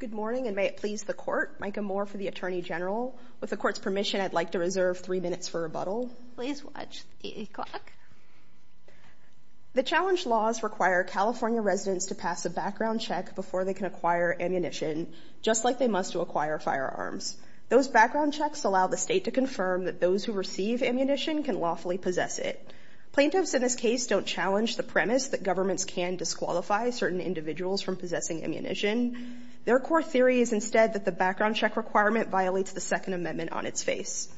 Good morning, and may it please the Court, Micah Moore for the Attorney General. With the Court's permission, I'd like to reserve three minutes for rebuttal. Please watch the clock. The challenge laws require California residents to pass a background check before they can acquire ammunition, just like they must to acquire firearms. Those background checks allow the State to confirm that those who receive ammunition can lawfully possess it. Plaintiffs in this case don't challenge the premise that governments can disqualify certain individuals from possessing ammunition. Their core theory is instead that the background check requirement violates the Second Amendment on its face.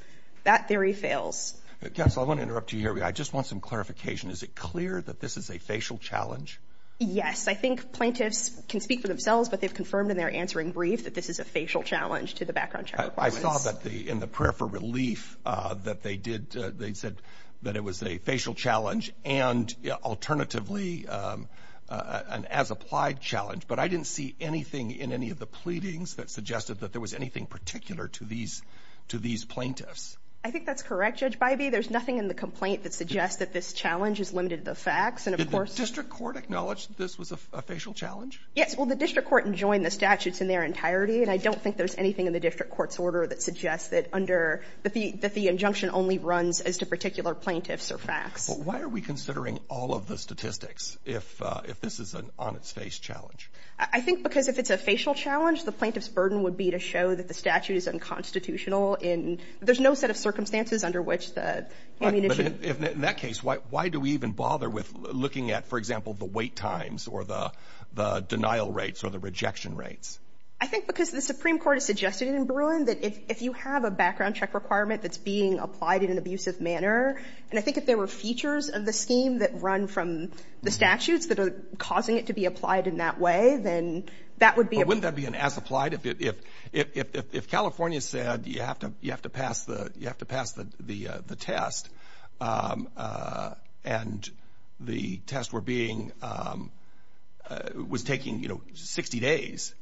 That theory fails. Counsel, I want to interrupt you here. I just want some clarification. Is it clear that this is a facial challenge? Yes. I think plaintiffs can speak for themselves, but they've confirmed in their answering brief that this is a facial challenge to the background check requirements. I saw that in the prayer for relief that they said that it was a facial challenge and alternatively an as-applied challenge, but I didn't see anything in any of the pleadings that suggested that there was anything particular to these plaintiffs. I think that's correct, Judge Bivey. There's nothing in the complaint that suggests that this challenge is limited to the facts, and of course— Did the District Court acknowledge that this was a facial challenge? Yes. Well, the District Court enjoined the statutes in their entirety, and I don't think there's anything in the District Court's order that suggests that under—that the injunction only runs as to particular plaintiffs or facts. But why are we considering all of the statistics if this is an on-its-face challenge? I think because if it's a facial challenge, the plaintiff's burden would be to show that the statute is unconstitutional in—there's no set of circumstances under which the ammunition— But in that case, why do we even bother with looking at, for example, the wait times or the denial rates or the rejection rates? I think because the Supreme Court has suggested in Bruin that if you have a background check requirement that's being applied in an abusive manner, and I think if there were features of the scheme that run from the statutes that are causing it to be applied in that way, then that would be a— But wouldn't that be an as-applied? If California said you have to pass the test, and the test were being—was taking, you know, 60 days,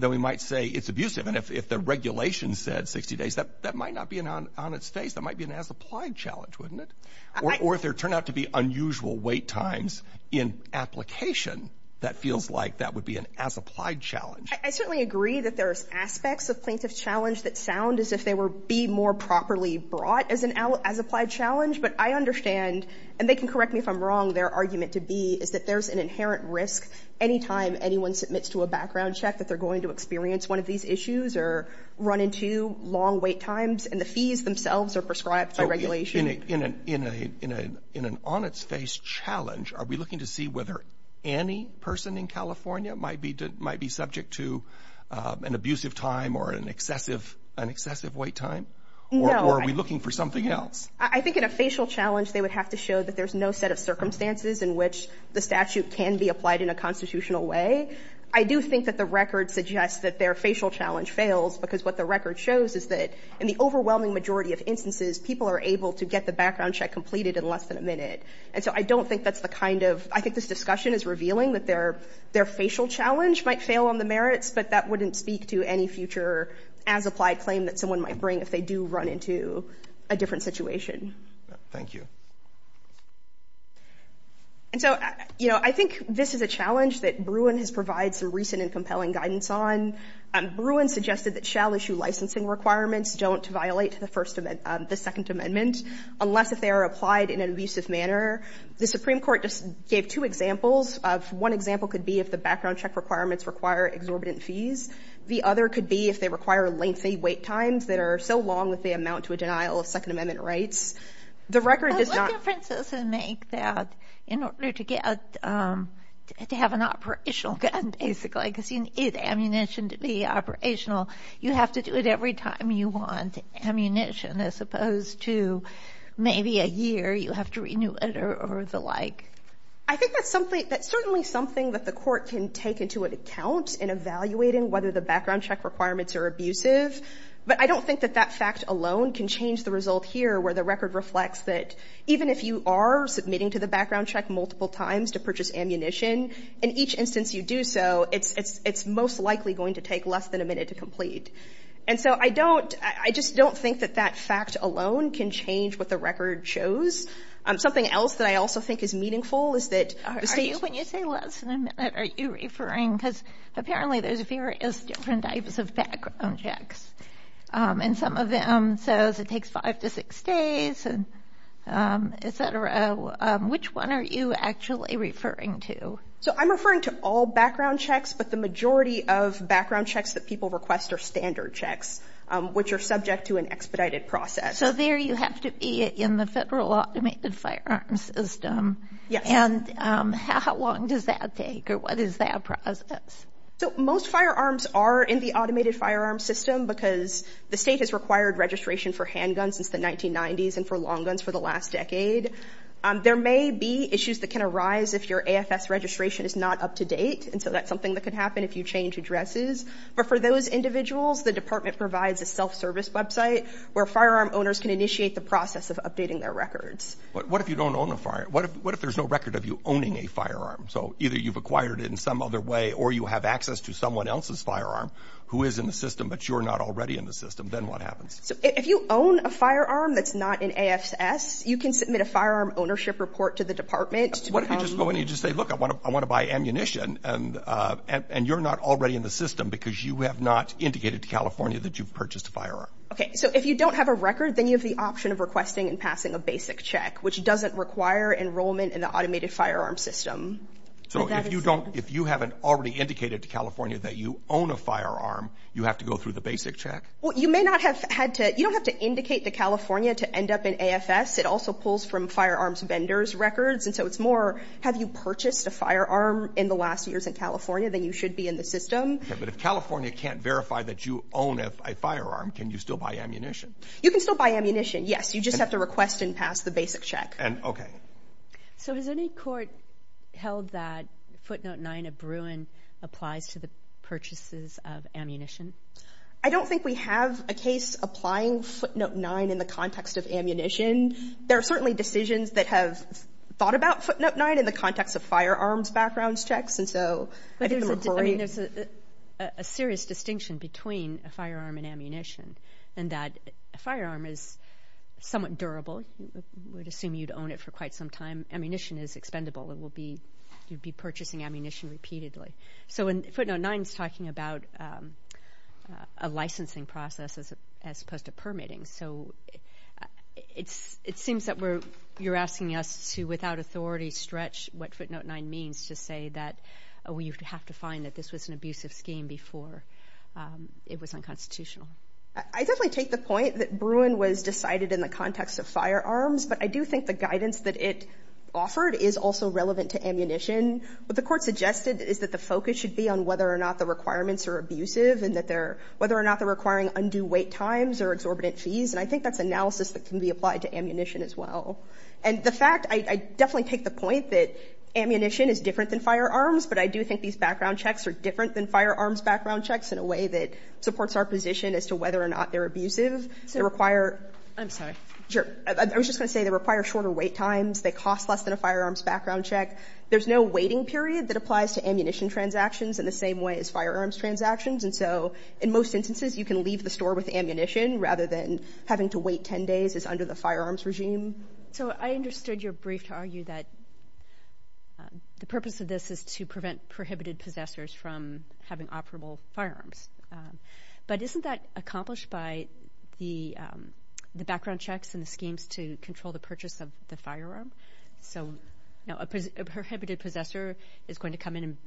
then we might say it's abusive. And if the regulation said 60 days, that might not be an on-its-face. That might be an as-applied challenge, wouldn't it? Or if there turned out to be unusual wait times in application, that feels like that would be an as-applied challenge. I certainly agree that there's aspects of plaintiff's challenge that sound as if they were—be more properly brought as an as-applied challenge, but I understand—and they can correct me if I'm wrong—their argument to be is that there's an inherent risk any time anyone submits to a background check that they're going to experience one of these issues or run into long wait times, and the fees themselves are prescribed by regulation. In an on-its-face challenge, are we looking to see whether any person in California might be subject to an abusive time or an excessive wait time, or are we looking for something else? I think in a facial challenge, they would have to show that there's no set of circumstances in which the statute can be applied in a constitutional way. I do think that the record suggests that their facial challenge fails, because what the record shows is that in the overwhelming majority of instances, people are able to get the background check completed in less than a minute. And so I don't think that's the kind of—I think this discussion is revealing that their facial challenge might fail on the merits, but that wouldn't speak to any future as-applied claim that someone might bring if they do run into a different situation. Thank you. And so, you know, I think this is a challenge that Bruin has provided some recent and compelling guidance on. Bruin suggested that shall-issue licensing requirements don't violate the First—the Second Amendment unless if they are applied in an abusive manner. The Supreme Court just gave two examples. One example could be if the background check requirements require exorbitant fees. The other could be if they require lengthy wait times that are so long that they amount to a denial of Second Amendment rights. The record does not— What difference does it make that in order to get—to have an operational gun, basically, because you need ammunition to be operational, you have to do it every time you want ammunition, as opposed to maybe a year you have to renew it or the like? I think that's something—that's certainly something that the Court can take into account in evaluating whether the background check requirements are abusive, but I don't think that that fact alone can change the result here where the record reflects that even if you are submitting to the background check multiple times to purchase ammunition, in each instance you do so, it's most likely going to take less than a minute to complete. And so I don't—I just don't think that that fact alone can change what the record shows. Something else that I also think is meaningful is that— Are you—when you say less than a minute, are you referring—because apparently there's various different types of background checks, and some of them says it takes five to six days, et cetera. Which one are you actually referring to? So I'm referring to all background checks, but the majority of background checks that people request are standard checks, which are subject to an expedited process. So there you have to be in the Federal Automated Firearms System. Yes. And how long does that take, or what is that process? So most firearms are in the Automated Firearms System because the state has required registration for handguns since the 1990s and for long guns for the last decade. There may be issues that can arise if your AFS registration is not up to date, and so that's something that could happen if you change addresses. But for those individuals, the department provides a self-service website where firearm owners can initiate the process of updating their records. What if you don't own a firearm? What if there's no record of you owning a firearm? So either you've acquired it in some other way or you have access to someone else's firearm who is in the system, but you're not already in the system. Then what happens? So if you own a firearm that's not in AFS, you can submit a firearm ownership report to the department to become— What if you just go in and you just say, look, I want to buy ammunition, and you're not already in the system because you have not indicated to California that you've purchased a firearm? Okay, so if you don't have a record, then you have the option of requesting and passing a basic check, which doesn't require enrollment in the Automated Firearms System. So if you haven't already indicated to California that you own a firearm, you have to go through the basic check? Well, you don't have to indicate to California to end up in AFS. It also pulls from firearms vendors' records, and so it's more, have you purchased a firearm in the last years in California? Then you should be in the system. But if California can't verify that you own a firearm, can you still buy ammunition? You can still buy ammunition, yes. You just have to request and pass the basic check. So has any court held that footnote 9 of Bruin applies to the purchases of ammunition? I don't think we have a case applying footnote 9 in the context of ammunition. There are certainly decisions that have thought about footnote 9 in the context of firearms backgrounds checks, and so I think the McCrory— I mean, there's a serious distinction between a firearm and ammunition in that a firearm is somewhat durable. You would assume you'd own it for quite some time. Ammunition is expendable. It will be, you'd be purchasing ammunition repeatedly. So footnote 9 is talking about a licensing process as opposed to permitting. So it seems that you're asking us to, without authority, stretch what footnote 9 means to say that you have to find that this was an abusive scheme before it was unconstitutional. I definitely take the point that Bruin was decided in the context of firearms, but I do think the guidance that it offered is also relevant to ammunition. What the court suggested is that the focus should be on whether or not the requirements are abusive and that they're, whether or not they're requiring undue wait times or exorbitant fees, and I think that's analysis that can be applied to ammunition as well. And the fact, I definitely take the point that ammunition is different than firearms, but I do think these background checks are different than firearms background checks in a way that supports our position as to whether or not they're abusive. They require— I'm sorry. Sure. I was just going to say they require shorter wait times. They cost less than a firearms background check. There's no waiting period that applies to ammunition transactions in the same way as firearms transactions, and so in most instances, you can leave the store with ammunition rather than having to wait 10 days as under the firearms regime. So I understood your brief to argue that the purpose of this is to prevent prohibited possessors from having operable firearms, but isn't that accomplished by the background checks and the schemes to control the purchase of the firearm? So a prohibited possessor is going to come in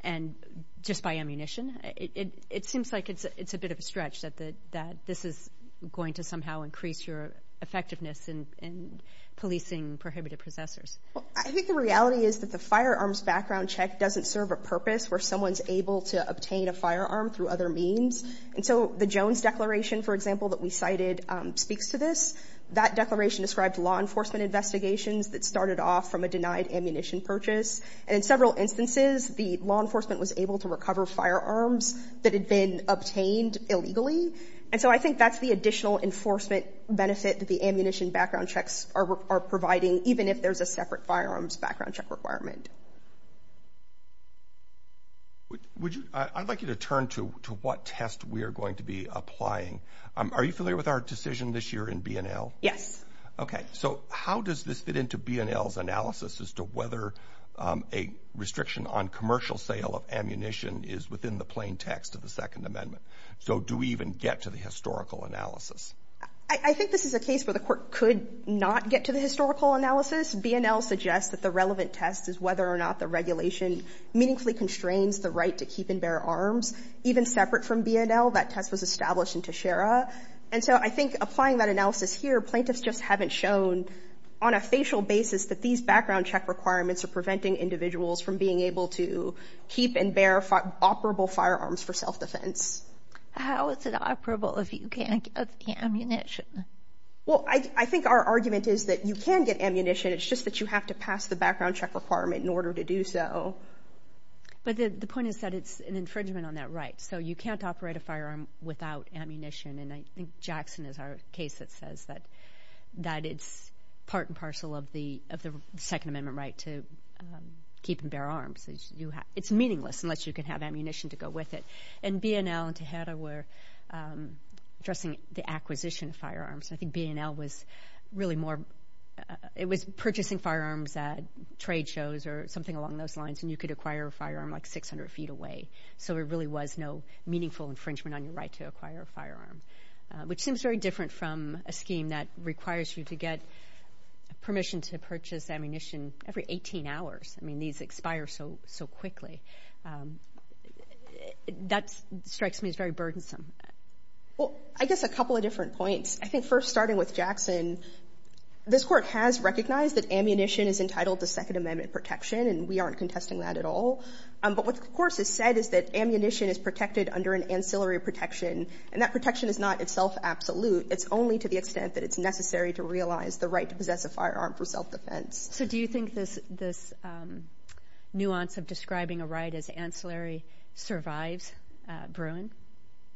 and just buy ammunition? It seems like it's a bit of a stretch that this is going to somehow increase your effectiveness in policing prohibited possessors. Well, I think the reality is that the firearms background check doesn't serve a purpose where someone's able to obtain a firearm through other means. And so the Jones Declaration, for example, that we cited speaks to this. That declaration described law enforcement investigations that started off from a denied ammunition purchase. And in several instances, the law enforcement was able to recover firearms that had been obtained illegally. And so I think that's the additional enforcement benefit that the ammunition background checks are providing, even if there's a separate firearms background check requirement. I'd like you to turn to what test we are going to be applying. Are you familiar with our decision this year in B&L? Yes. Okay. So how does this fit into B&L's analysis as to whether a restriction on commercial sale of ammunition is within the plain text of the Second Amendment? So do we even get to the historical analysis? I think this is a case where the court could not get to the historical analysis. B&L suggests that the relevant test is whether or not the regulation meaningfully constrains the right to keep and bear arms. Even separate from B&L, that test was established in Teixeira. And so I think applying that analysis here, plaintiffs just haven't shown on a facial basis that these background check requirements are preventing individuals from being able to keep and bear operable firearms for self-defense. How is it operable if you can't get ammunition? Well, I think our argument is that you can get ammunition. It's just that you have to pass the background check requirement in order to do so. But the point is that it's an infringement on that right. So you can't operate a firearm without ammunition. And I think Jackson is our case that says that it's part and parcel of the Second Amendment right to keep and bear arms. It's meaningless unless you can have ammunition to go with it. And B&L and Teixeira were addressing the acquisition of firearms. I think B&L was really more—it was purchasing firearms at trade shows or something along those lines, and you could acquire a firearm like 600 feet away. So there really was no meaningful infringement on your right to acquire a firearm, which seems very different from a scheme that requires you to get permission to purchase ammunition every 18 hours. I mean, these expire so quickly. That strikes me as very burdensome. Well, I guess a couple of different points. I think first, starting with Jackson, this Court has recognized that ammunition is entitled to Second Amendment protection, and we aren't contesting that at all. But what, of course, is said is that ammunition is protected under an ancillary protection, and that protection is not itself absolute. It's only to the extent that it's necessary to realize the right to possess a firearm for self-defense. So do you think this nuance of describing a right as ancillary survives Bruin?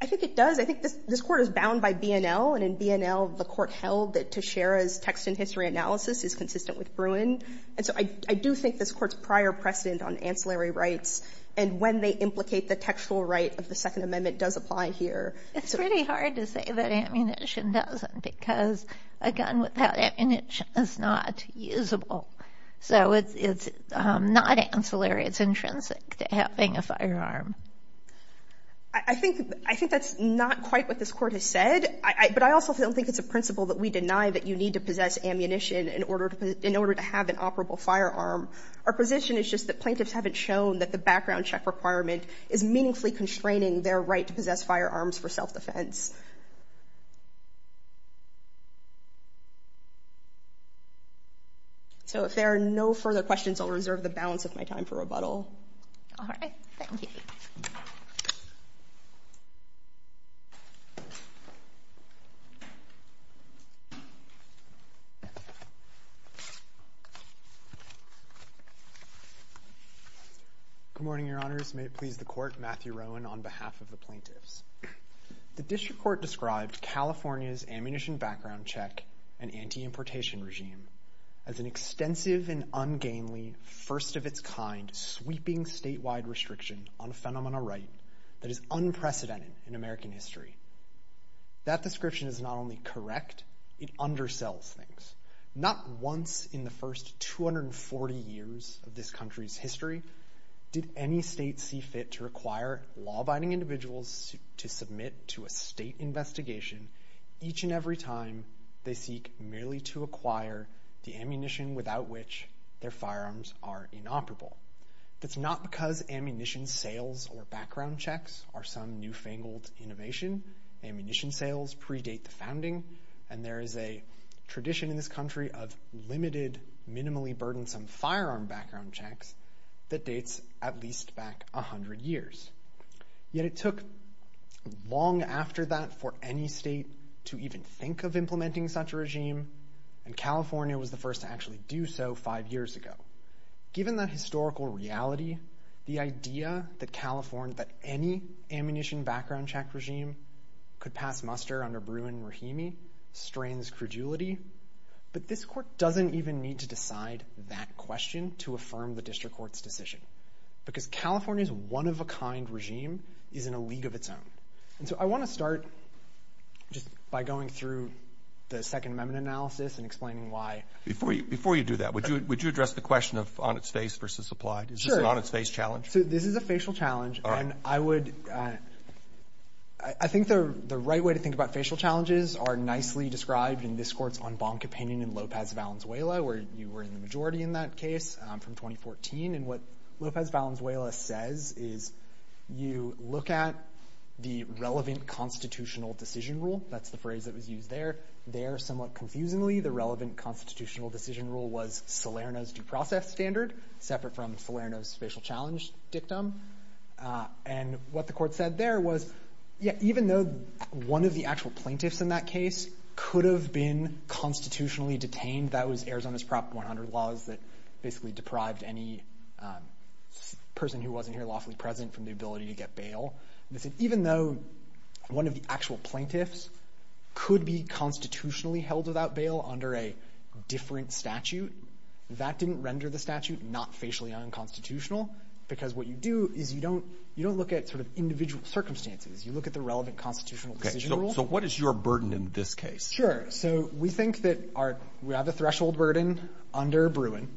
I think it does. I think this Court is bound by B&L. And in B&L, the Court held that Teixeira's text and history analysis is consistent with Bruin. And so I do think this Court's prior precedent on ancillary rights and when they implicate the textual right of the Second Amendment does apply here. It's pretty hard to say that ammunition doesn't, because a gun without ammunition is not usable. So it's not ancillary. It's intrinsic to having a firearm. I think that's not quite what this Court has said. But I also don't think it's a principle that we deny that you need to possess ammunition in order to have an operable firearm. Our position is just that plaintiffs haven't shown that the background check requirement is meaningfully constraining their right to possess firearms for self-defense. So if there are no further questions, I'll reserve the balance of my time for rebuttal. All right. Thank you. Good morning, Your Honors. May it please the Court. Matthew Rowan on behalf of the plaintiffs. The District Court described California's ammunition background check and anti-importation regime as an extensive and ungainly, first of its kind, sweeping statewide restriction on a phenomenon of right that is unprecedented in American history. That description is not only correct, it undersells things. Not once in the first 240 years of this country's history did any state see fit to require law-abiding individuals to submit to a state investigation each and every time they seek merely to acquire the ammunition without which their firearms are inoperable. That's not because ammunition sales or background checks are some newfangled innovation. Ammunition sales predate the founding, and there is a tradition in this country of limited, minimally burdensome firearm background checks that dates at least back 100 years. Yet it took long after that for any state to even think of implementing such a regime, and California was the first to actually do so five years ago. Given that historical reality, the idea that California, that any ammunition background check regime could pass muster under Bruin-Rahimi strains credulity, but this court doesn't even need to decide that question to affirm the district court's decision, because California's one-of-a-kind regime is in a league of its own. And so I want to start just by going through the Second Amendment analysis and explaining why. Before you do that, would you address the question of on its face versus applied? Sure. Is this an on-its-face challenge? This is a facial challenge, and I think the right way to think about facial challenges are nicely described in this court's en banc opinion in Lopez-Valenzuela, where you were in the majority in that case from 2014. And what Lopez-Valenzuela says is you look at the relevant constitutional decision rule. That's the phrase that was used there. There, somewhat confusingly, the relevant constitutional decision rule was Salerno's due process standard, separate from Salerno's facial challenge dictum. And what the court said there was, yeah, even though one of the actual plaintiffs in that case could have been constitutionally detained, that was Arizona's Prop 100 laws that basically deprived any person who wasn't here lawfully present from the ability to get bail, even though one of the actual plaintiffs could be constitutionally held without bail under a different statute. That didn't render the statute not facially unconstitutional, because what you do is you don't look at sort of individual circumstances. You look at the relevant constitutional decision rule. So what is your burden in this case? Sure. So we think that we have a threshold burden under Bruin,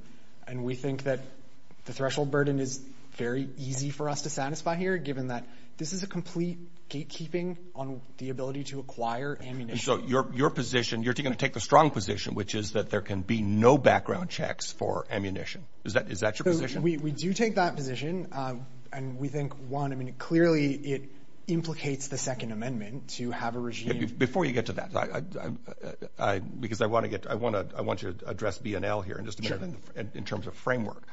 and we think that the threshold burden is very easy for us to satisfy here, given that this is a complete gatekeeping on the ability to acquire ammunition. So your position, you're going to take the strong position, which is that there can be no background checks for ammunition. Is that your position? We do take that position. And we think, one, I mean, clearly it implicates the Second Amendment to have a regime. Before you get to that, because I want to address BNL here in terms of framework.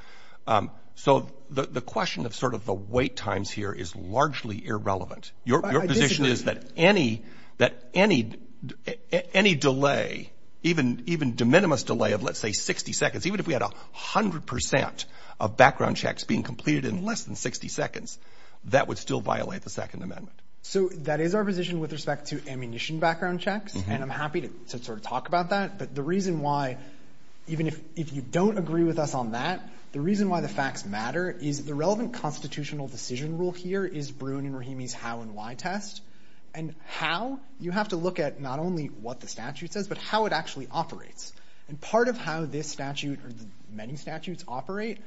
So the question of sort of the wait times here is largely irrelevant. Your position is that any delay, even de minimis delay of, let's say, 60 seconds, even if we had 100 percent of background checks being completed in less than 60 seconds, that would still violate the Second Amendment. So that is our position with respect to ammunition background checks. And I'm happy to sort of talk about that. But the reason why, even if you don't agree with us on that, the reason why the facts matter is the relevant constitutional decision rule here is Bruin and Rahimi's how and why test. And how, you have to look at not only what the statute says, but how it actually operates. And part of how this statute or many statutes operate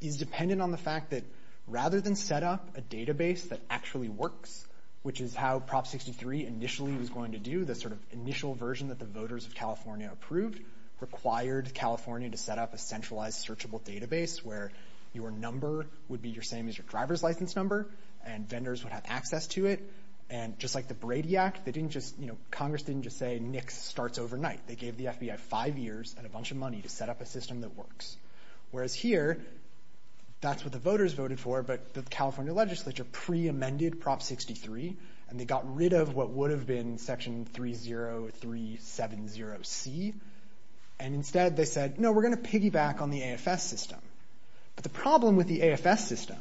is dependent on the fact that rather than set up a database that actually works, which is how Prop 63 initially was going to do, the sort of initial version that the voters of California approved, required California to set up a centralized searchable database where your number would be your same as your driver's license number and vendors would have access to it. And just like the Brady Act, they didn't just, you know, Congress didn't just say, Nick starts overnight. They gave the FBI five years and a bunch of money to set up a system that works. Whereas here, that's what the voters voted for. But the California legislature pre-amended Prop 63 and they got rid of what would have been Section 30370C. And instead, they said, no, we're going to piggyback on the AFS system. But the problem with the AFS system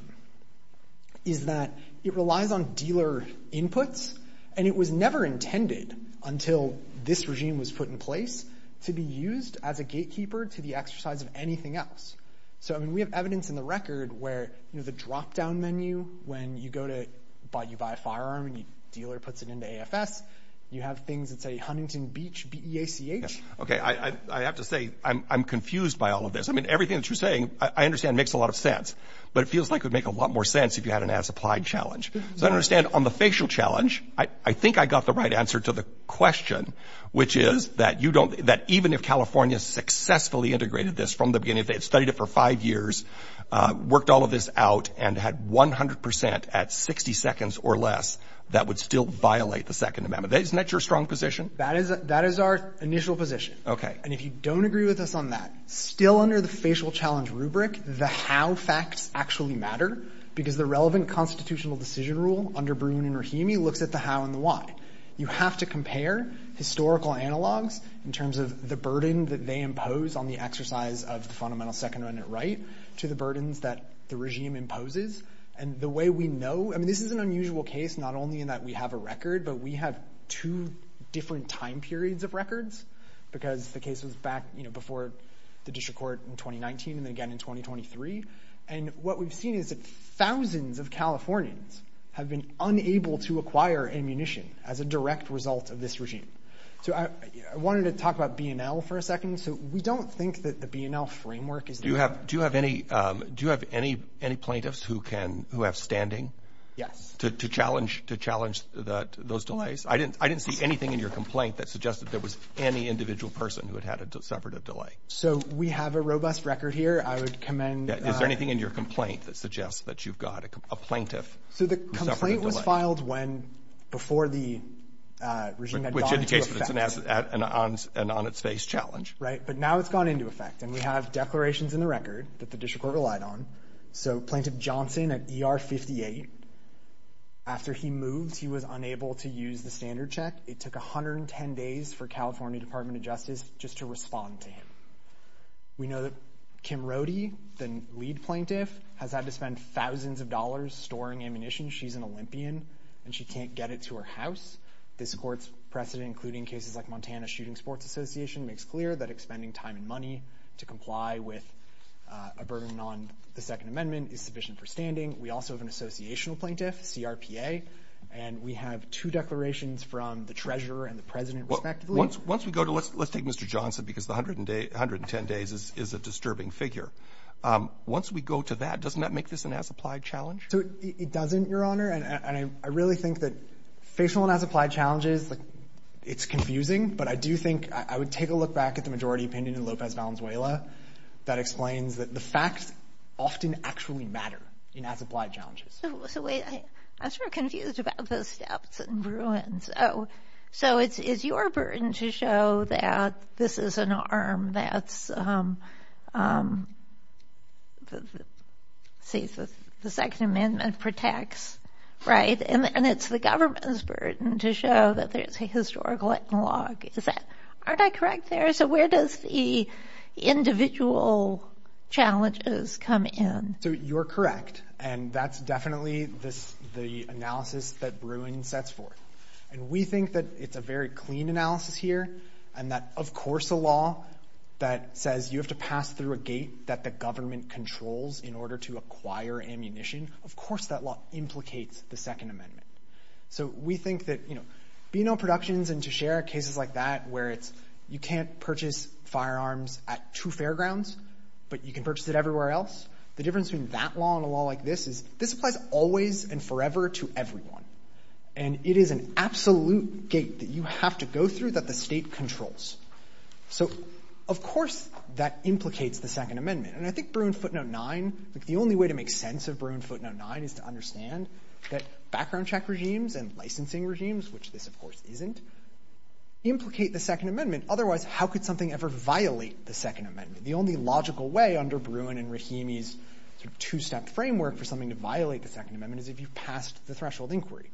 is that it relies on dealer inputs. And it was never intended until this regime was put in place to be used as a gatekeeper to the exercise of anything else. So, I mean, we have evidence in the record where, you know, the dropdown menu when you go to buy, you buy a firearm and your dealer puts it into AFS. You have things that say Huntington Beach, B-E-A-C-H. OK, I have to say, I'm confused by all of this. I mean, everything that you're saying, I understand, makes a lot of sense. But it feels like it would make a lot more sense if you had an as-applied challenge. So I understand on the facial challenge, I think I got the right answer to the question, which is that you don't, that even if California successfully integrated this from the beginning, they've studied it for five years, worked all of this out and had 100 percent at 60 seconds or less that would still violate the Second Amendment. Isn't that your strong position? That is, that is our initial position. And if you don't agree with us on that, still under the facial challenge rubric, the how facts actually matter because the relevant constitutional decision rule under Bruin and Rahimi looks at the how and the why. You have to compare historical analogs in terms of the burden that they impose on the exercise of the fundamental Second Amendment right to the burdens that the regime imposes. And the way we know, I mean, this is an unusual case, not only in that we have a record, but we have two different time periods of records because the case was back, you know, before the district court in 2019 and then again in 2023. And what we've seen is that thousands of Californians have been unable to acquire ammunition as a direct result of this regime. So I wanted to talk about BNL for a second. So we don't think that the BNL framework is... Do you have any plaintiffs who have standing? Yes. To challenge those delays? I didn't see anything in your complaint that suggested there was any individual person who had had a separate delay. So we have a robust record here. I would commend... Is there anything in your complaint that suggests that you've got a plaintiff? So the complaint was filed before the regime had gone into effect. Which indicates that it's an on its face challenge. Right. But now it's gone into effect. And we have declarations in the record that the district court relied on. So Plaintiff Johnson at ER 58, after he moved, he was unable to use the standard check. It took 110 days for California Department of Justice just to respond to him. We know that Kim Rohde, the lead plaintiff, has had to spend thousands of dollars storing ammunition. She's an Olympian and she can't get it to her house. This court's precedent, including cases like Montana Shooting Sports Association, makes clear that expending time and money to comply with a burden on the Second Amendment is sufficient for standing. We also have an associational plaintiff, CRPA. And we have two declarations from the treasurer and the president, respectively. Once we go to... Let's take Mr. Johnson because the 110 days is a disturbing figure. Once we go to that, doesn't that make this an as-applied challenge? So it doesn't, Your Honor. And I really think that facial and as-applied challenges, it's confusing. But I do think I would take a look back at the majority opinion in Lopez Valenzuela that explains that the facts often actually matter in as-applied challenges. So wait, I'm sort of confused about those steps and Bruins. Oh, so it's your burden to show that this is an arm that's... See, the Second Amendment protects, right? And it's the government's burden to show that there's a historical analog. Is that... Aren't I correct there? So where does the individual challenges come in? So you're correct. And that's definitely the analysis that Bruins sets forth. And we think that it's a very clean analysis here. And that, of course, a law that says you have to pass through a gate that the government controls in order to acquire ammunition. Of course, that law implicates the Second Amendment. So we think that, you know, B&O Productions, and to share cases like that, where it's you can't purchase firearms at two fairgrounds, but you can purchase it everywhere else. The difference between that law and a law like this is this applies always and forever to everyone. And it is an absolute gate that you have to go through that the state controls. So, of course, that implicates the Second Amendment. And I think Bruin footnote nine, like the only way to make sense of Bruin footnote nine is to understand that background check regimes and licensing regimes, which this, of course, isn't, implicate the Second Amendment. Otherwise, how could something ever violate the Second Amendment? The only logical way under Bruin and Rahimi's two-step framework for something to violate the Second Amendment is if you've passed the threshold inquiry.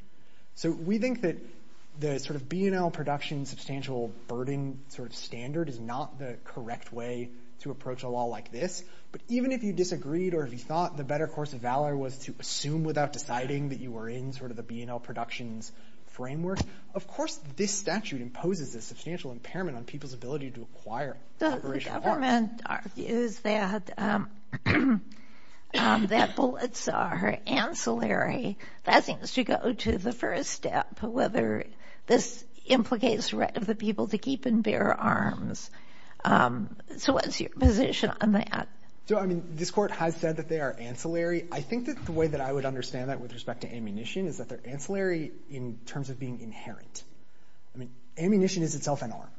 So we think that the sort of B&O Production substantial burden sort of standard is not the correct way to approach a law like this. But even if you disagreed or if you thought the better course of valor was to assume without deciding that you were in sort of the B&O Productions framework, of course, this statute imposes a substantial impairment on people's ability to acquire operational arms. The government argues that bullets are ancillary. That seems to go to the first step, whether this implicates right of the people to keep and bear arms. So what's your position on that? So, I mean, this court has said that they are ancillary. I think that the way that I would understand that with respect to ammunition is that they're ancillary in terms of being inherent. I mean, ammunition is itself an arm.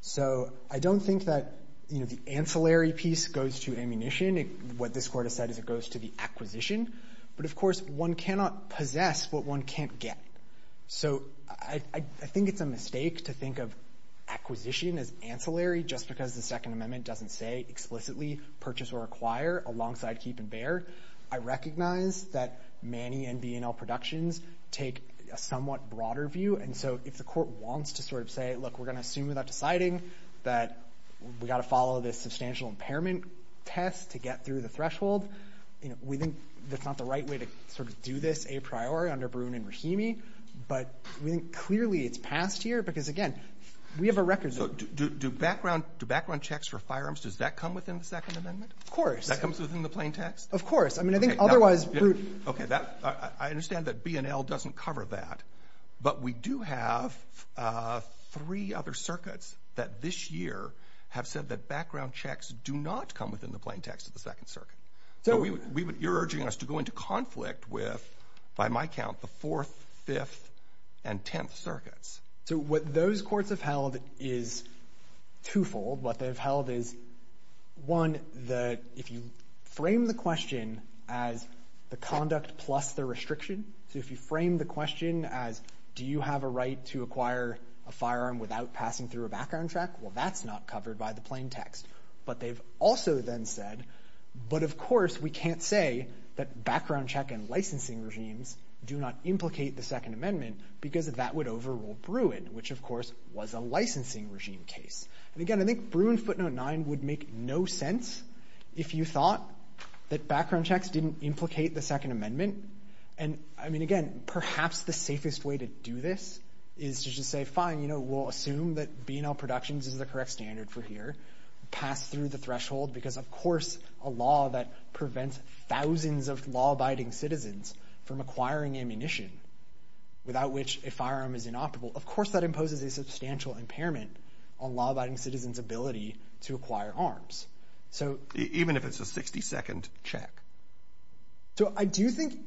So I don't think that, you know, the ancillary piece goes to ammunition. What this court has said is it goes to the acquisition. But of course, one cannot possess what one can't get. So I think it's a mistake to think of acquisition as ancillary just because the Second Amendment doesn't say explicitly purchase or acquire alongside keep and bear. I recognize that Manny and B&O Productions take a somewhat broader view. And so if the court wants to sort of say, look, we're going to assume without deciding that we've got to follow this substantial impairment test to get through the threshold, we think that's not the right way to sort of do this a priori under Bruin and Rahimi. But we think clearly it's past here because, again, we have a record. So do background checks for firearms, does that come within the Second Amendment? Of course. That comes within the plain text? Of course. I mean, I think otherwise... Okay. I understand that B&L doesn't cover that. But we do have three other circuits that this year have said that background checks do not come within the plain text of the Second Circuit. You're urging us to go into conflict with, by my count, the Fourth, Fifth, and Tenth Circuits. So what those courts have held is twofold. What they've held is, one, if you frame the question as the conduct plus the restriction. So if you frame the question as, do you have a right to acquire a firearm without passing through a background check? Well, that's not covered by the plain text. But they've also then said, but of course we can't say that background check and licensing regimes do not implicate the Second Amendment because that would overrule Bruin, which of course was a licensing regime case. And again, I think Bruin footnote nine would make no sense if you thought that background checks didn't implicate the Second Amendment. And I mean, again, perhaps the safest way to do this is to just say, fine, you know, we'll assume that B&L Productions is the correct standard for here. Pass through the threshold because, of course, a law that prevents thousands of law-abiding citizens from acquiring ammunition without which a firearm is inoperable, of course that imposes a substantial impairment on law-abiding citizens' ability to acquire arms. So even if it's a 60-second check. So I do think,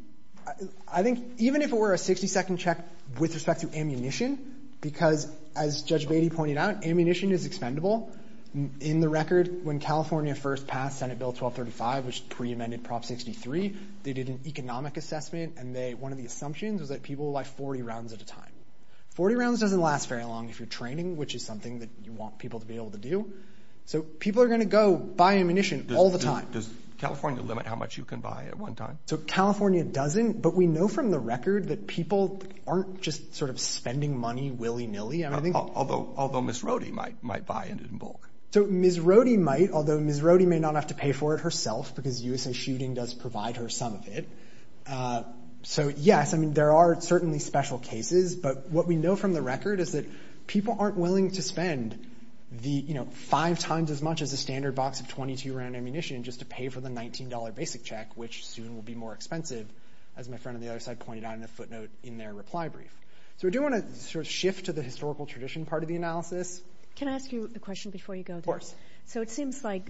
I think even if it were a 60-second check with respect to ammunition, because as Judge Beatty pointed out, ammunition is expendable. In the record, when California first passed Senate Bill 1235, which pre-amended Prop 63, they did an economic assessment and they, one of the assumptions was that people will buy 40 rounds at a time. 40 rounds doesn't last very long if you're training, which is something that you want people to be able to do. So people are going to go buy ammunition all the time. Does California limit how much you can buy at one time? So California doesn't, but we know from the record that people aren't just sort of spending money willy-nilly. Although Ms. Rohde might buy it in bulk. So Ms. Rohde might, although Ms. Rohde may not have to pay for it herself because USA Shooting does provide her some of it. So yes, I mean, there are certainly special cases, but what we know from the record is that people aren't willing to spend the, you know, five times as much as a standard box of 22-round ammunition just to pay for the $19 basic check, which soon will be more expensive, as my friend on the other side pointed out in a footnote in their reply brief. So we do want to sort of shift to the historical tradition part of the analysis. Can I ask you a question before you go? Of course. So it seems like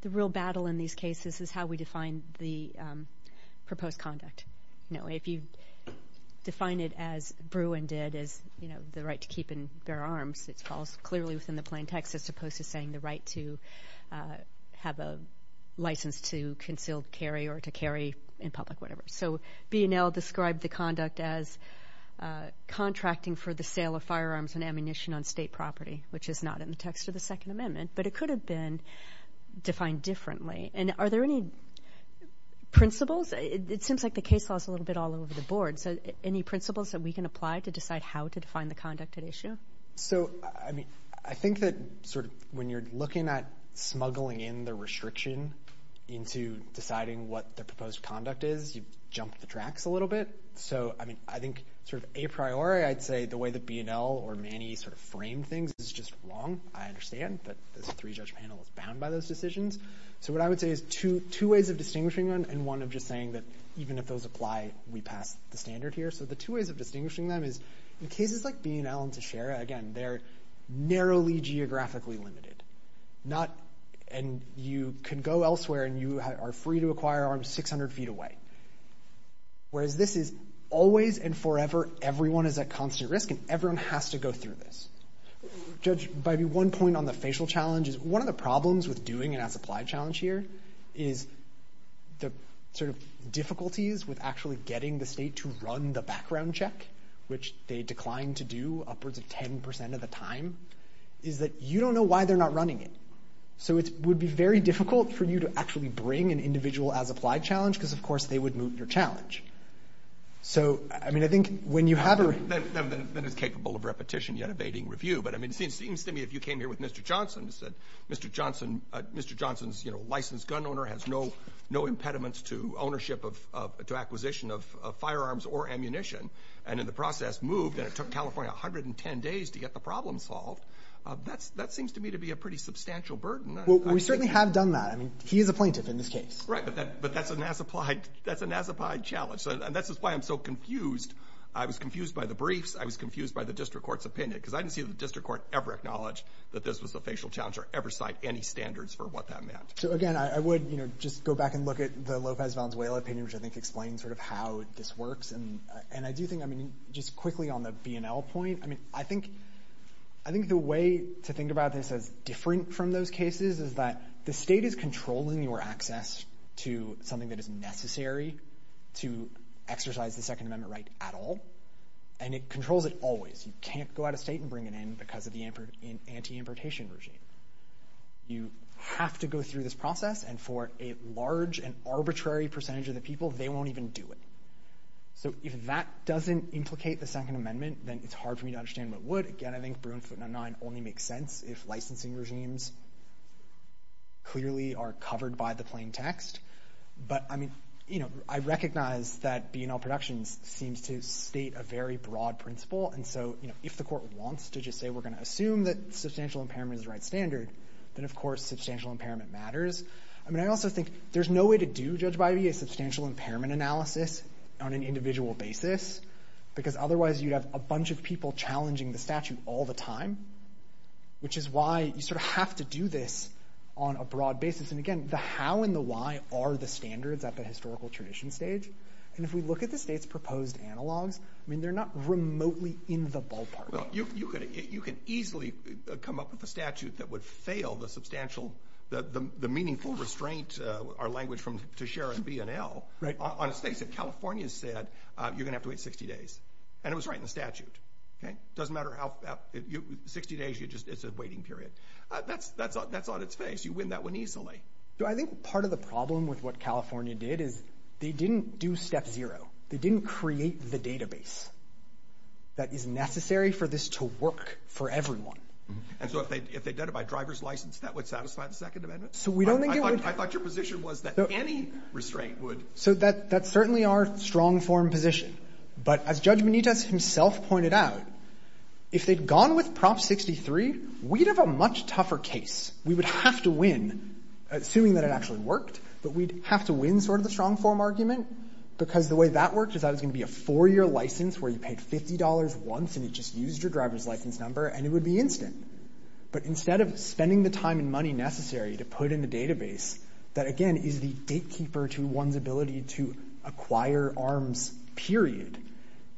the real battle in these cases is how we define the proposed conduct. You know, if you define it as Bruin did, as, you know, the right to keep and bear arms, it falls clearly within the plain text as opposed to saying the right to have a license to concealed carry or to carry in public, whatever. So B&L described the conduct as contracting for the sale of firearms and ammunition on state property, which is not in the text of the Second Amendment, but it could have been defined differently. And are there any principles? It seems like the case law is a little bit all over the board. So any principles that we can apply to decide how to define the conduct at issue? So, I mean, I think that sort of when you're looking at smuggling in the restriction into deciding what the proposed conduct is, you jump the tracks a little bit. So, I mean, I think sort of a priori, I'd say the way that B&L or Manny sort of framed things is just wrong. I understand that this three-judge panel is bound by those decisions. So what I would say is two ways of distinguishing them, and one of just saying that even if those apply, we pass the standard here. So the two ways of distinguishing them is in cases like B&L and Teixeira, again, they're narrowly geographically limited, and you can go elsewhere and you are free to acquire arms 600 feet away. Whereas this is always and forever, everyone is at constant risk, and everyone has to go through this. Judge, maybe one point on the facial challenges. One of the problems with doing an as-applied challenge here is the sort of difficulties with actually getting the state to run the background check, which they declined to do upwards of 10% of the time, is that you don't know why they're not running it. So it would be very difficult for you to actually bring an individual as-applied challenge, because, of course, they would move your challenge. So, I mean, I think when you have a... That is capable of repetition, yet evading review. But, I mean, it seems to me if you came here with Mr. Johnson and said, Mr. Johnson, Mr. Johnson's, you know, licensed gun owner has no impediments to ownership of, to acquisition of firearms or ammunition, and in the process moved, and it took California 110 days to get the problem solved. That's, that seems to me to be a pretty substantial burden. Well, we certainly have done that. I mean, he is a plaintiff in this case. Right, but that, but that's an as-applied, that's an as-applied challenge. And that's why I'm so confused. I was confused by the briefs. I was confused by the district court's opinion, because I didn't see the district court ever acknowledge that this was a facial challenge or ever cite any standards for what that meant. So, again, I would, you know, just go back and look at the Lopez Valenzuela opinion, which I think explains sort of how this works. And, and I do think, I mean, just quickly on the B&L point. I mean, I think, I think the way to think about this as different from those cases is that the state is controlling your access to something that is necessary to exercise the Second Amendment right at all. And it controls it always. You can't go out of state and bring it in because of the anti-importation regime. You have to go through this process, and for a large and arbitrary percentage of the people, they won't even do it. So if that doesn't implicate the Second Amendment, then it's hard for me to understand what would. Again, I think Bruin footnote 9 only makes sense if licensing regimes clearly are covered by the plain text. But, I mean, you know, I recognize that B&L Productions seems to state a very broad principle. And so, you know, if the court wants to just say, we're going to assume that substantial impairment is the right standard, then, of course, substantial impairment matters. I mean, I also think there's no way to do, Judge Bivey, a substantial impairment analysis on an individual basis, because otherwise you'd have a bunch of people challenging the statute all the time, which is why you sort of have to do this on a broad basis. And again, the how and the why are the standards at the historical tradition stage. And if we look at the state's proposed analogs, I mean, they're not remotely in the ballpark. Well, you could easily come up with a statute that would fail the substantial, the meaningful restraint, our language from Teixeira and B&L, on a state that California said, you're going to have to wait 60 days. And it was right in the statute. Okay. Doesn't matter how, 60 days, it's a waiting period. That's on its face. You win that one easily. So I think part of the problem with what California did is they didn't do step zero. They didn't create the database that is necessary for this to work for everyone. And so if they did it by driver's license, that would satisfy the Second Amendment? So we don't think it would. I thought your position was that any restraint would. So that's certainly our strong form position. But as Judge Benitez himself pointed out, if they'd gone with Prop 63, we'd have a much tougher case. We would have to win, assuming that it actually worked, but we'd have to win sort of the strong form argument. Because the way that worked is that was going to be a four-year license where you paid $50 once and it just used your driver's license number, and it would be instant. But instead of spending the time and money necessary to put in the database, that again is the gatekeeper to one's ability to acquire arms, period.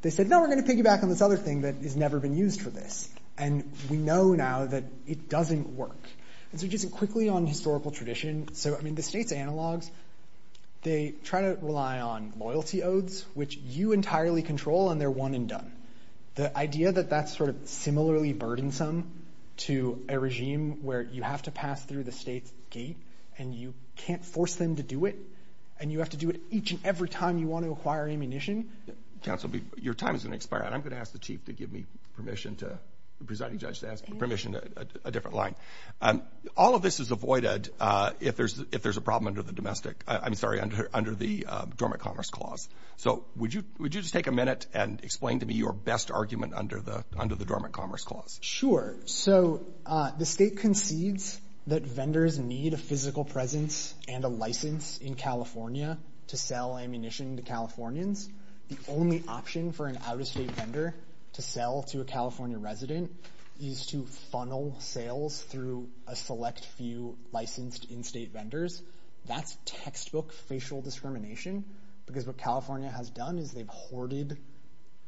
They said, no, we're going to piggyback on this other thing that has never been used for this. And we know now that it doesn't work. And so just quickly on historical tradition. So I mean, the state's analogs, they try to rely on loyalty oaths, which you entirely control, and they're one and done. The idea that that's sort of similarly burdensome to a regime where you have to pass through the state's gate, and you can't force them to do it, and you have to do it each and every time you want to acquire ammunition. Counsel, your time is going to expire, and I'm going to ask the Chief to give me permission to, the presiding judge to ask permission to a different line. All of this is avoided if there's a problem under the domestic, I'm sorry, under the Dormant Commerce Clause. So would you just take a minute and explain to me your best argument under the Dormant Commerce Clause? Sure. So the state concedes that vendors need a physical presence and a license in California to sell ammunition to Californians. The only option for an out-of-state vendor to sell to a California resident is to funnel sales through a select few licensed in-state vendors. That's textbook facial discrimination, because what California has done is they've hoarded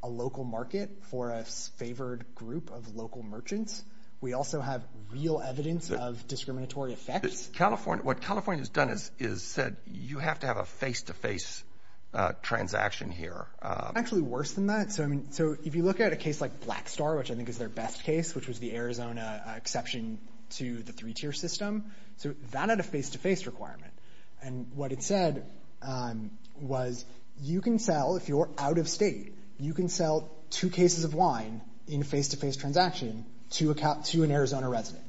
a local market for a favored group of local merchants. We also have real evidence of discriminatory effects. What California has done is said, you have to have a face-to-face transaction here. Actually worse than that. So I mean, so if you look at a case like Blackstar, which I think is their best case, which was the Arizona exception to the three-tier system. So that had a face-to-face requirement. And what it said was, you can sell, if you're out of state, you can sell two cases of wine in a face-to-face transaction to an Arizona resident.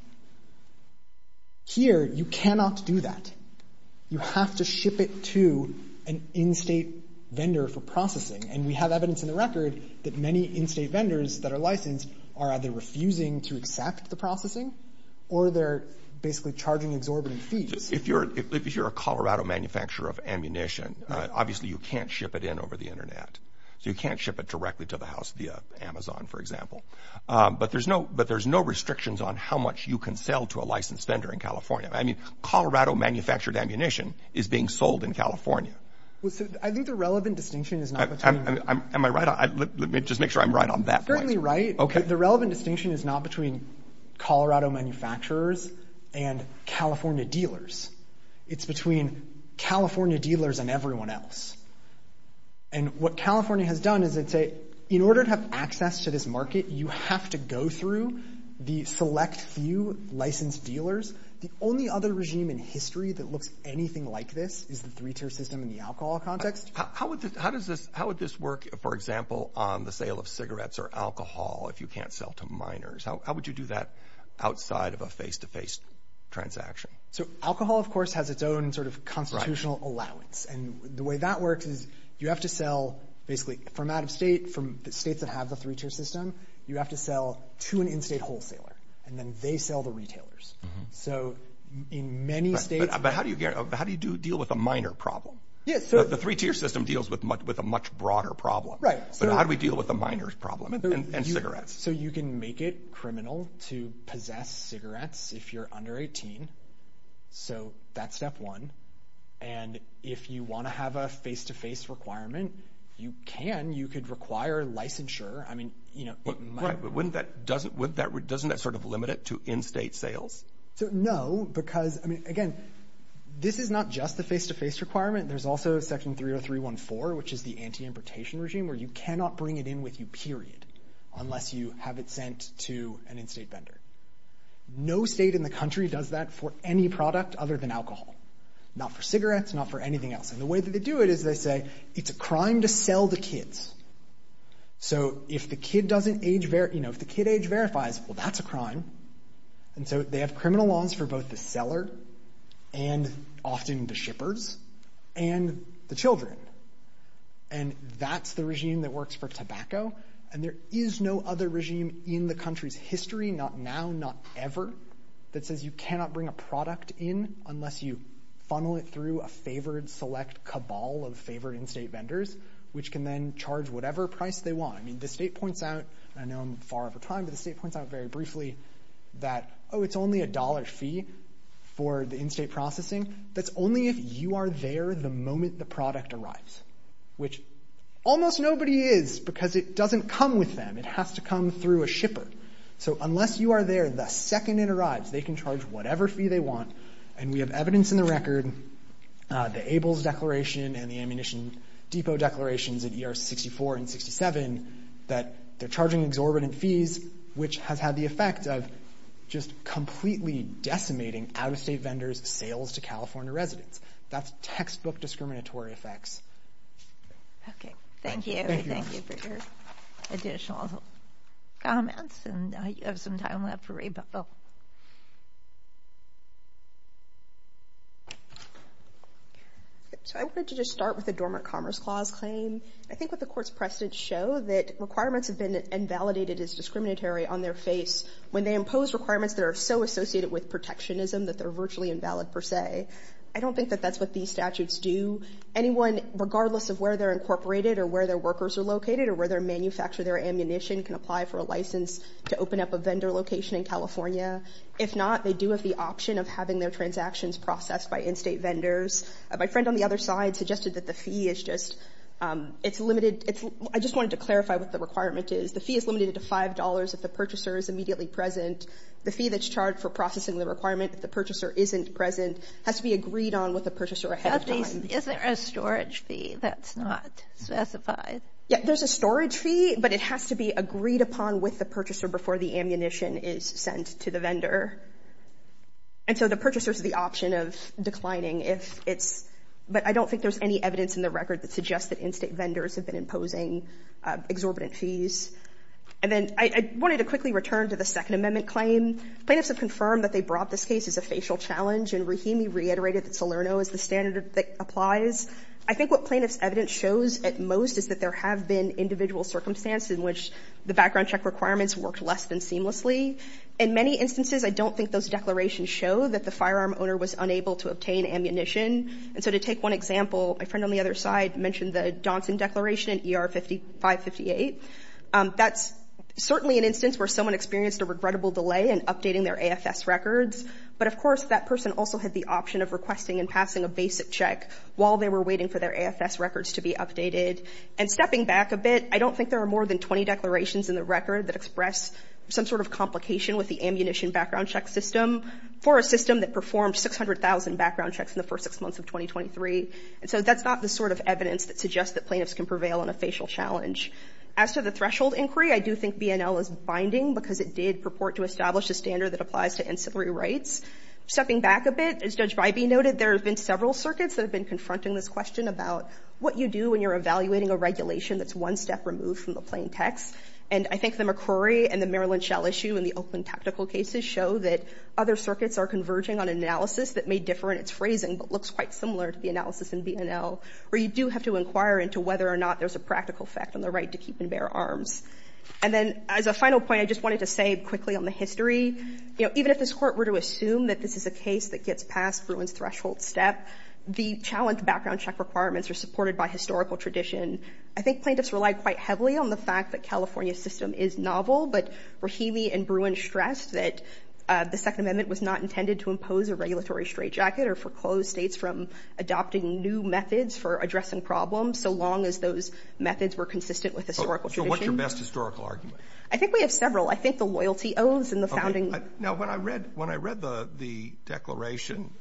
Here, you cannot do that. You have to ship it to an in-state vendor for processing. And we have evidence in the record that many in-state vendors that are licensed are either refusing to accept the processing or they're basically charging exorbitant fees. If you're a Colorado manufacturer of ammunition, obviously you can't ship it in over the internet. So you can't ship it directly to the house via Amazon, for example. But there's no restrictions on how much you can sell to a licensed vendor in California. I mean, Colorado-manufactured ammunition is being sold in California. Well, so I think the relevant distinction is not between... Am I right? Let me just make sure I'm right on that point. You're certainly right. Okay. The relevant distinction is not between Colorado manufacturers and California dealers. It's between California dealers and everyone else. And what California has done is it say, in order to have access to this market, you have to go through the select few licensed dealers. The only other regime in history that looks anything like this is the three-tier system in the alcohol context. How would this work, for example, on the sale of cigarettes or alcohol if you can't sell to minors? How would you do that outside of a face-to-face transaction? So alcohol, of course, has its own sort of constitutional allowance. And the way that works is you have to sell, basically, from out-of-state, from the states that have the three-tier system, you have to sell to an in-state wholesaler. And then they sell the retailers. So in many states... But how do you deal with a minor problem? Yeah, so... The three-tier system deals with a much broader problem. Right. So how do we deal with a minor's problem and cigarettes? So you can make it criminal to possess cigarettes if you're under 18. So that's step one. And if you want to have a face-to-face requirement, you can. You could require licensure. I mean, you know... Right, but wouldn't that... Doesn't that sort of limit it to in-state sales? So no, because, I mean, again, this is not just the face-to-face requirement. There's also Section 30314, which is the anti-importation regime, where you cannot bring it in with you, period, unless you have it sent to an in-state vendor. No state in the country does that for any product other than alcohol. Not for cigarettes, not for anything else. And the way that they do it is they say, it's a crime to sell to kids. So if the kid age verifies, well, that's a crime. And so they have criminal laws for both the seller and often the shippers and the children. And that's the regime that works for tobacco. And there is no other regime in the country's history, not now, not ever, that says you cannot bring a product in unless you funnel it through a favored select cabal of favored in-state vendors, which can then charge whatever price they want. I mean, the state points out, and I know I'm far over time, but the state points out very briefly that, oh, it's only a dollar fee for the in-state processing. That's only if you are there the moment the product arrives, which almost nobody is because it doesn't come with them. It has to come through a shipper. So unless you are there the second it arrives, they can charge whatever fee they want. And we have evidence in the record, the ABLES declaration and the Ammunition Depot declarations at ER 64 and 67, that they're charging exorbitant fees, which has had the effect of just completely decimating out-of-state vendors' sales to California residents. That's textbook discriminatory effects. Okay, thank you. Thank you for your additional comments. And you have some time left for rebuttal. So I wanted to just start with the Dormant Commerce Clause claim. I think what the Court's precedents show that requirements have been invalidated as discriminatory on their face when they impose requirements that are so associated with protectionism that they're virtually invalid per se. I don't think that that's what these statutes do. Anyone, regardless of where they're incorporated or where their workers are located or where they manufacture their ammunition can apply for a license to open up a vendor location in California. If not, they do have the option of having their transactions processed by in-state vendors. My friend on the other side suggested that the fee is just, it's limited. I just wanted to clarify what the requirement is. The fee is limited to $5 if the purchaser is immediately present. The fee that's charged for processing the requirement if the purchaser isn't present has to be agreed on with the purchaser ahead of time. Is there a storage fee that's not specified? Yeah, there's a storage fee, but it has to be agreed upon with the purchaser before the ammunition is sent to the vendor. And so the purchaser has the option of declining if it's, but I don't think there's any evidence in the record that suggests that in-state vendors have been imposing exorbitant fees. And then I wanted to quickly return to the Second Amendment claim. Plaintiffs have confirmed that they brought this case as a facial challenge, and Rahimi reiterated that Salerno is the standard that applies. I think what plaintiff's evidence shows at most is that there have been individual circumstances in which the background check requirements worked less than seamlessly. In many instances, I don't think those declarations show that the firearm owner was unable to obtain ammunition. And so to take one example, my friend on the other side mentioned the Donson Declaration in ER 558. That's certainly an instance where someone experienced a regrettable delay in updating their AFS records. But of course, that person also had the option of requesting and passing a basic check while they were waiting for their AFS records to be updated. And stepping back a bit, I don't think there are more than 20 declarations in the record that express some sort of complication with the ammunition background check system for a system that performed 600,000 background checks in the first six months of 2023. And so that's not the sort of evidence that suggests that plaintiffs can prevail on a facial challenge. As to the threshold inquiry, I do think BNL is binding because it did purport to establish a standard that applies to ancillary rights. Stepping back a bit, as Judge Bybee noted, there have been several circuits that have been confronting this question about what you do when you're evaluating a regulation that's one step removed from the plain text. And I think the McCrory and the Maryland Shell issue in the Oakland tactical cases show that other circuits are converging on analysis that may differ in its phrasing, but looks quite similar to the analysis in BNL, where you do have to inquire into whether or not there's a practical effect on the right to keep and bear arms. And then as a final point, I just wanted to say quickly on the history. You know, even if this court were to assume that this is a case that gets past Bruin's threshold step, the challenge background check requirements are supported by historical tradition. I think plaintiffs rely quite heavily on the fact that California's system is novel, but Rahimi and Bruin stressed that the Second Amendment was not intended to impose a regulatory straitjacket or foreclose states from adopting new methods for addressing problems, so long as those methods were consistent with historical tradition. So what's your best historical argument? I think we have several. I think the loyalty oaths and the founding... Now, when I read the declaration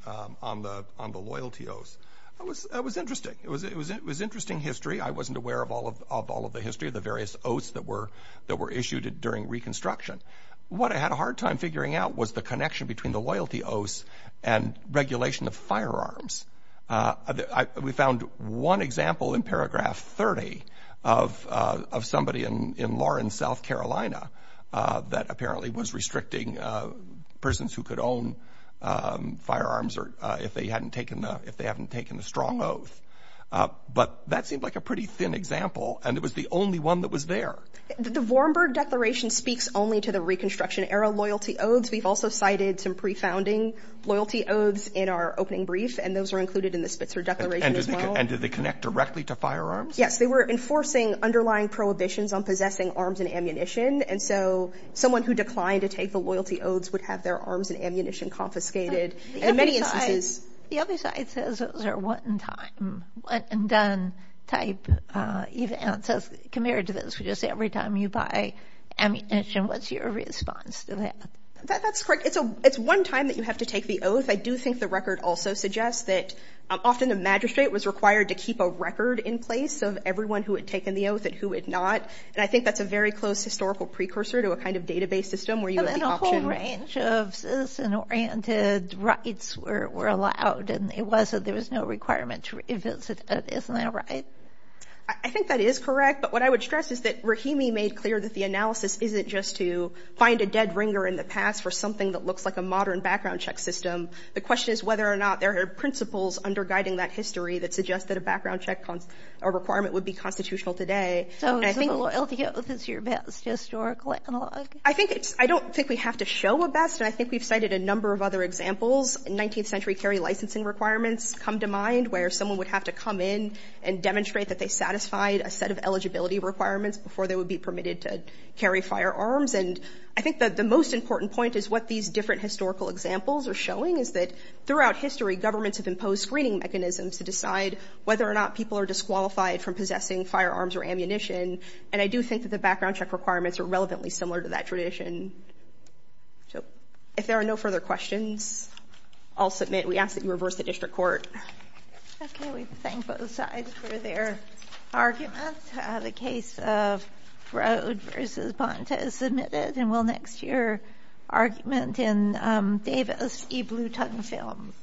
on the loyalty oaths, that was interesting. It was interesting history. I wasn't aware of all of the history of the various oaths that were issued during Reconstruction. What I had a hard time figuring out was the connection between the loyalty oaths and regulation of firearms. We found one example in paragraph 30 of somebody in Lawrence, South Carolina, that apparently was restricting prisons who could own firearms or if they hadn't taken the strong oath. But that seemed like a pretty thin example, and it was the only one that was there. The Vorenberg Declaration speaks only to the Reconstruction-era loyalty oaths. We've also cited some pre-founding loyalty oaths in our opening brief, and those are included in the Spitzer Declaration as well. And did they connect directly to firearms? Yes, they were enforcing underlying prohibitions on possessing arms and ammunition. And so someone who declined to take the loyalty oaths would have their arms and ammunition confiscated. And in many instances... The other side says it was a one-time, one-and-done type event. Compared to this, just every time you buy ammunition, what's your response to that? That's correct. It's one time that you have to take the oath. I do think the record also suggests that often the magistrate was required to keep a record in place of everyone who had taken the oath and who had not. And I think that's a very close historical precursor to a kind of database system where you have the option... And a whole range of citizen-oriented rights were allowed, and it was that there was no requirement to revisit it. Isn't that right? I think that is correct. But what I would stress is that Rahimi made clear that the analysis isn't just to find a dead ringer in the past for something that looks like a modern background check system. The question is whether or not there are principles under guiding that history that suggest that a background check or requirement would be constitutional today. So the loyalty oath is your best historical analog? I think it's... I don't think we have to show a best, and I think we've cited a number of other examples. 19th century carry licensing requirements come to mind where someone would have to come in and demonstrate that they satisfied a set of eligibility requirements before they would be permitted to carry firearms. And I think that the most important point is what these different historical examples are showing is that throughout history, governments have imposed screening mechanisms to decide whether or not people are disqualified from possessing firearms or ammunition. And I do think that the background check requirements are relevantly similar to that tradition. So if there are no further questions, I'll submit. We ask that you reverse the district court. Okay, we thank both sides for their argument. The case of Broad v. Bonta is submitted and we'll next hear argument in Davis v. Blue Tongue Films.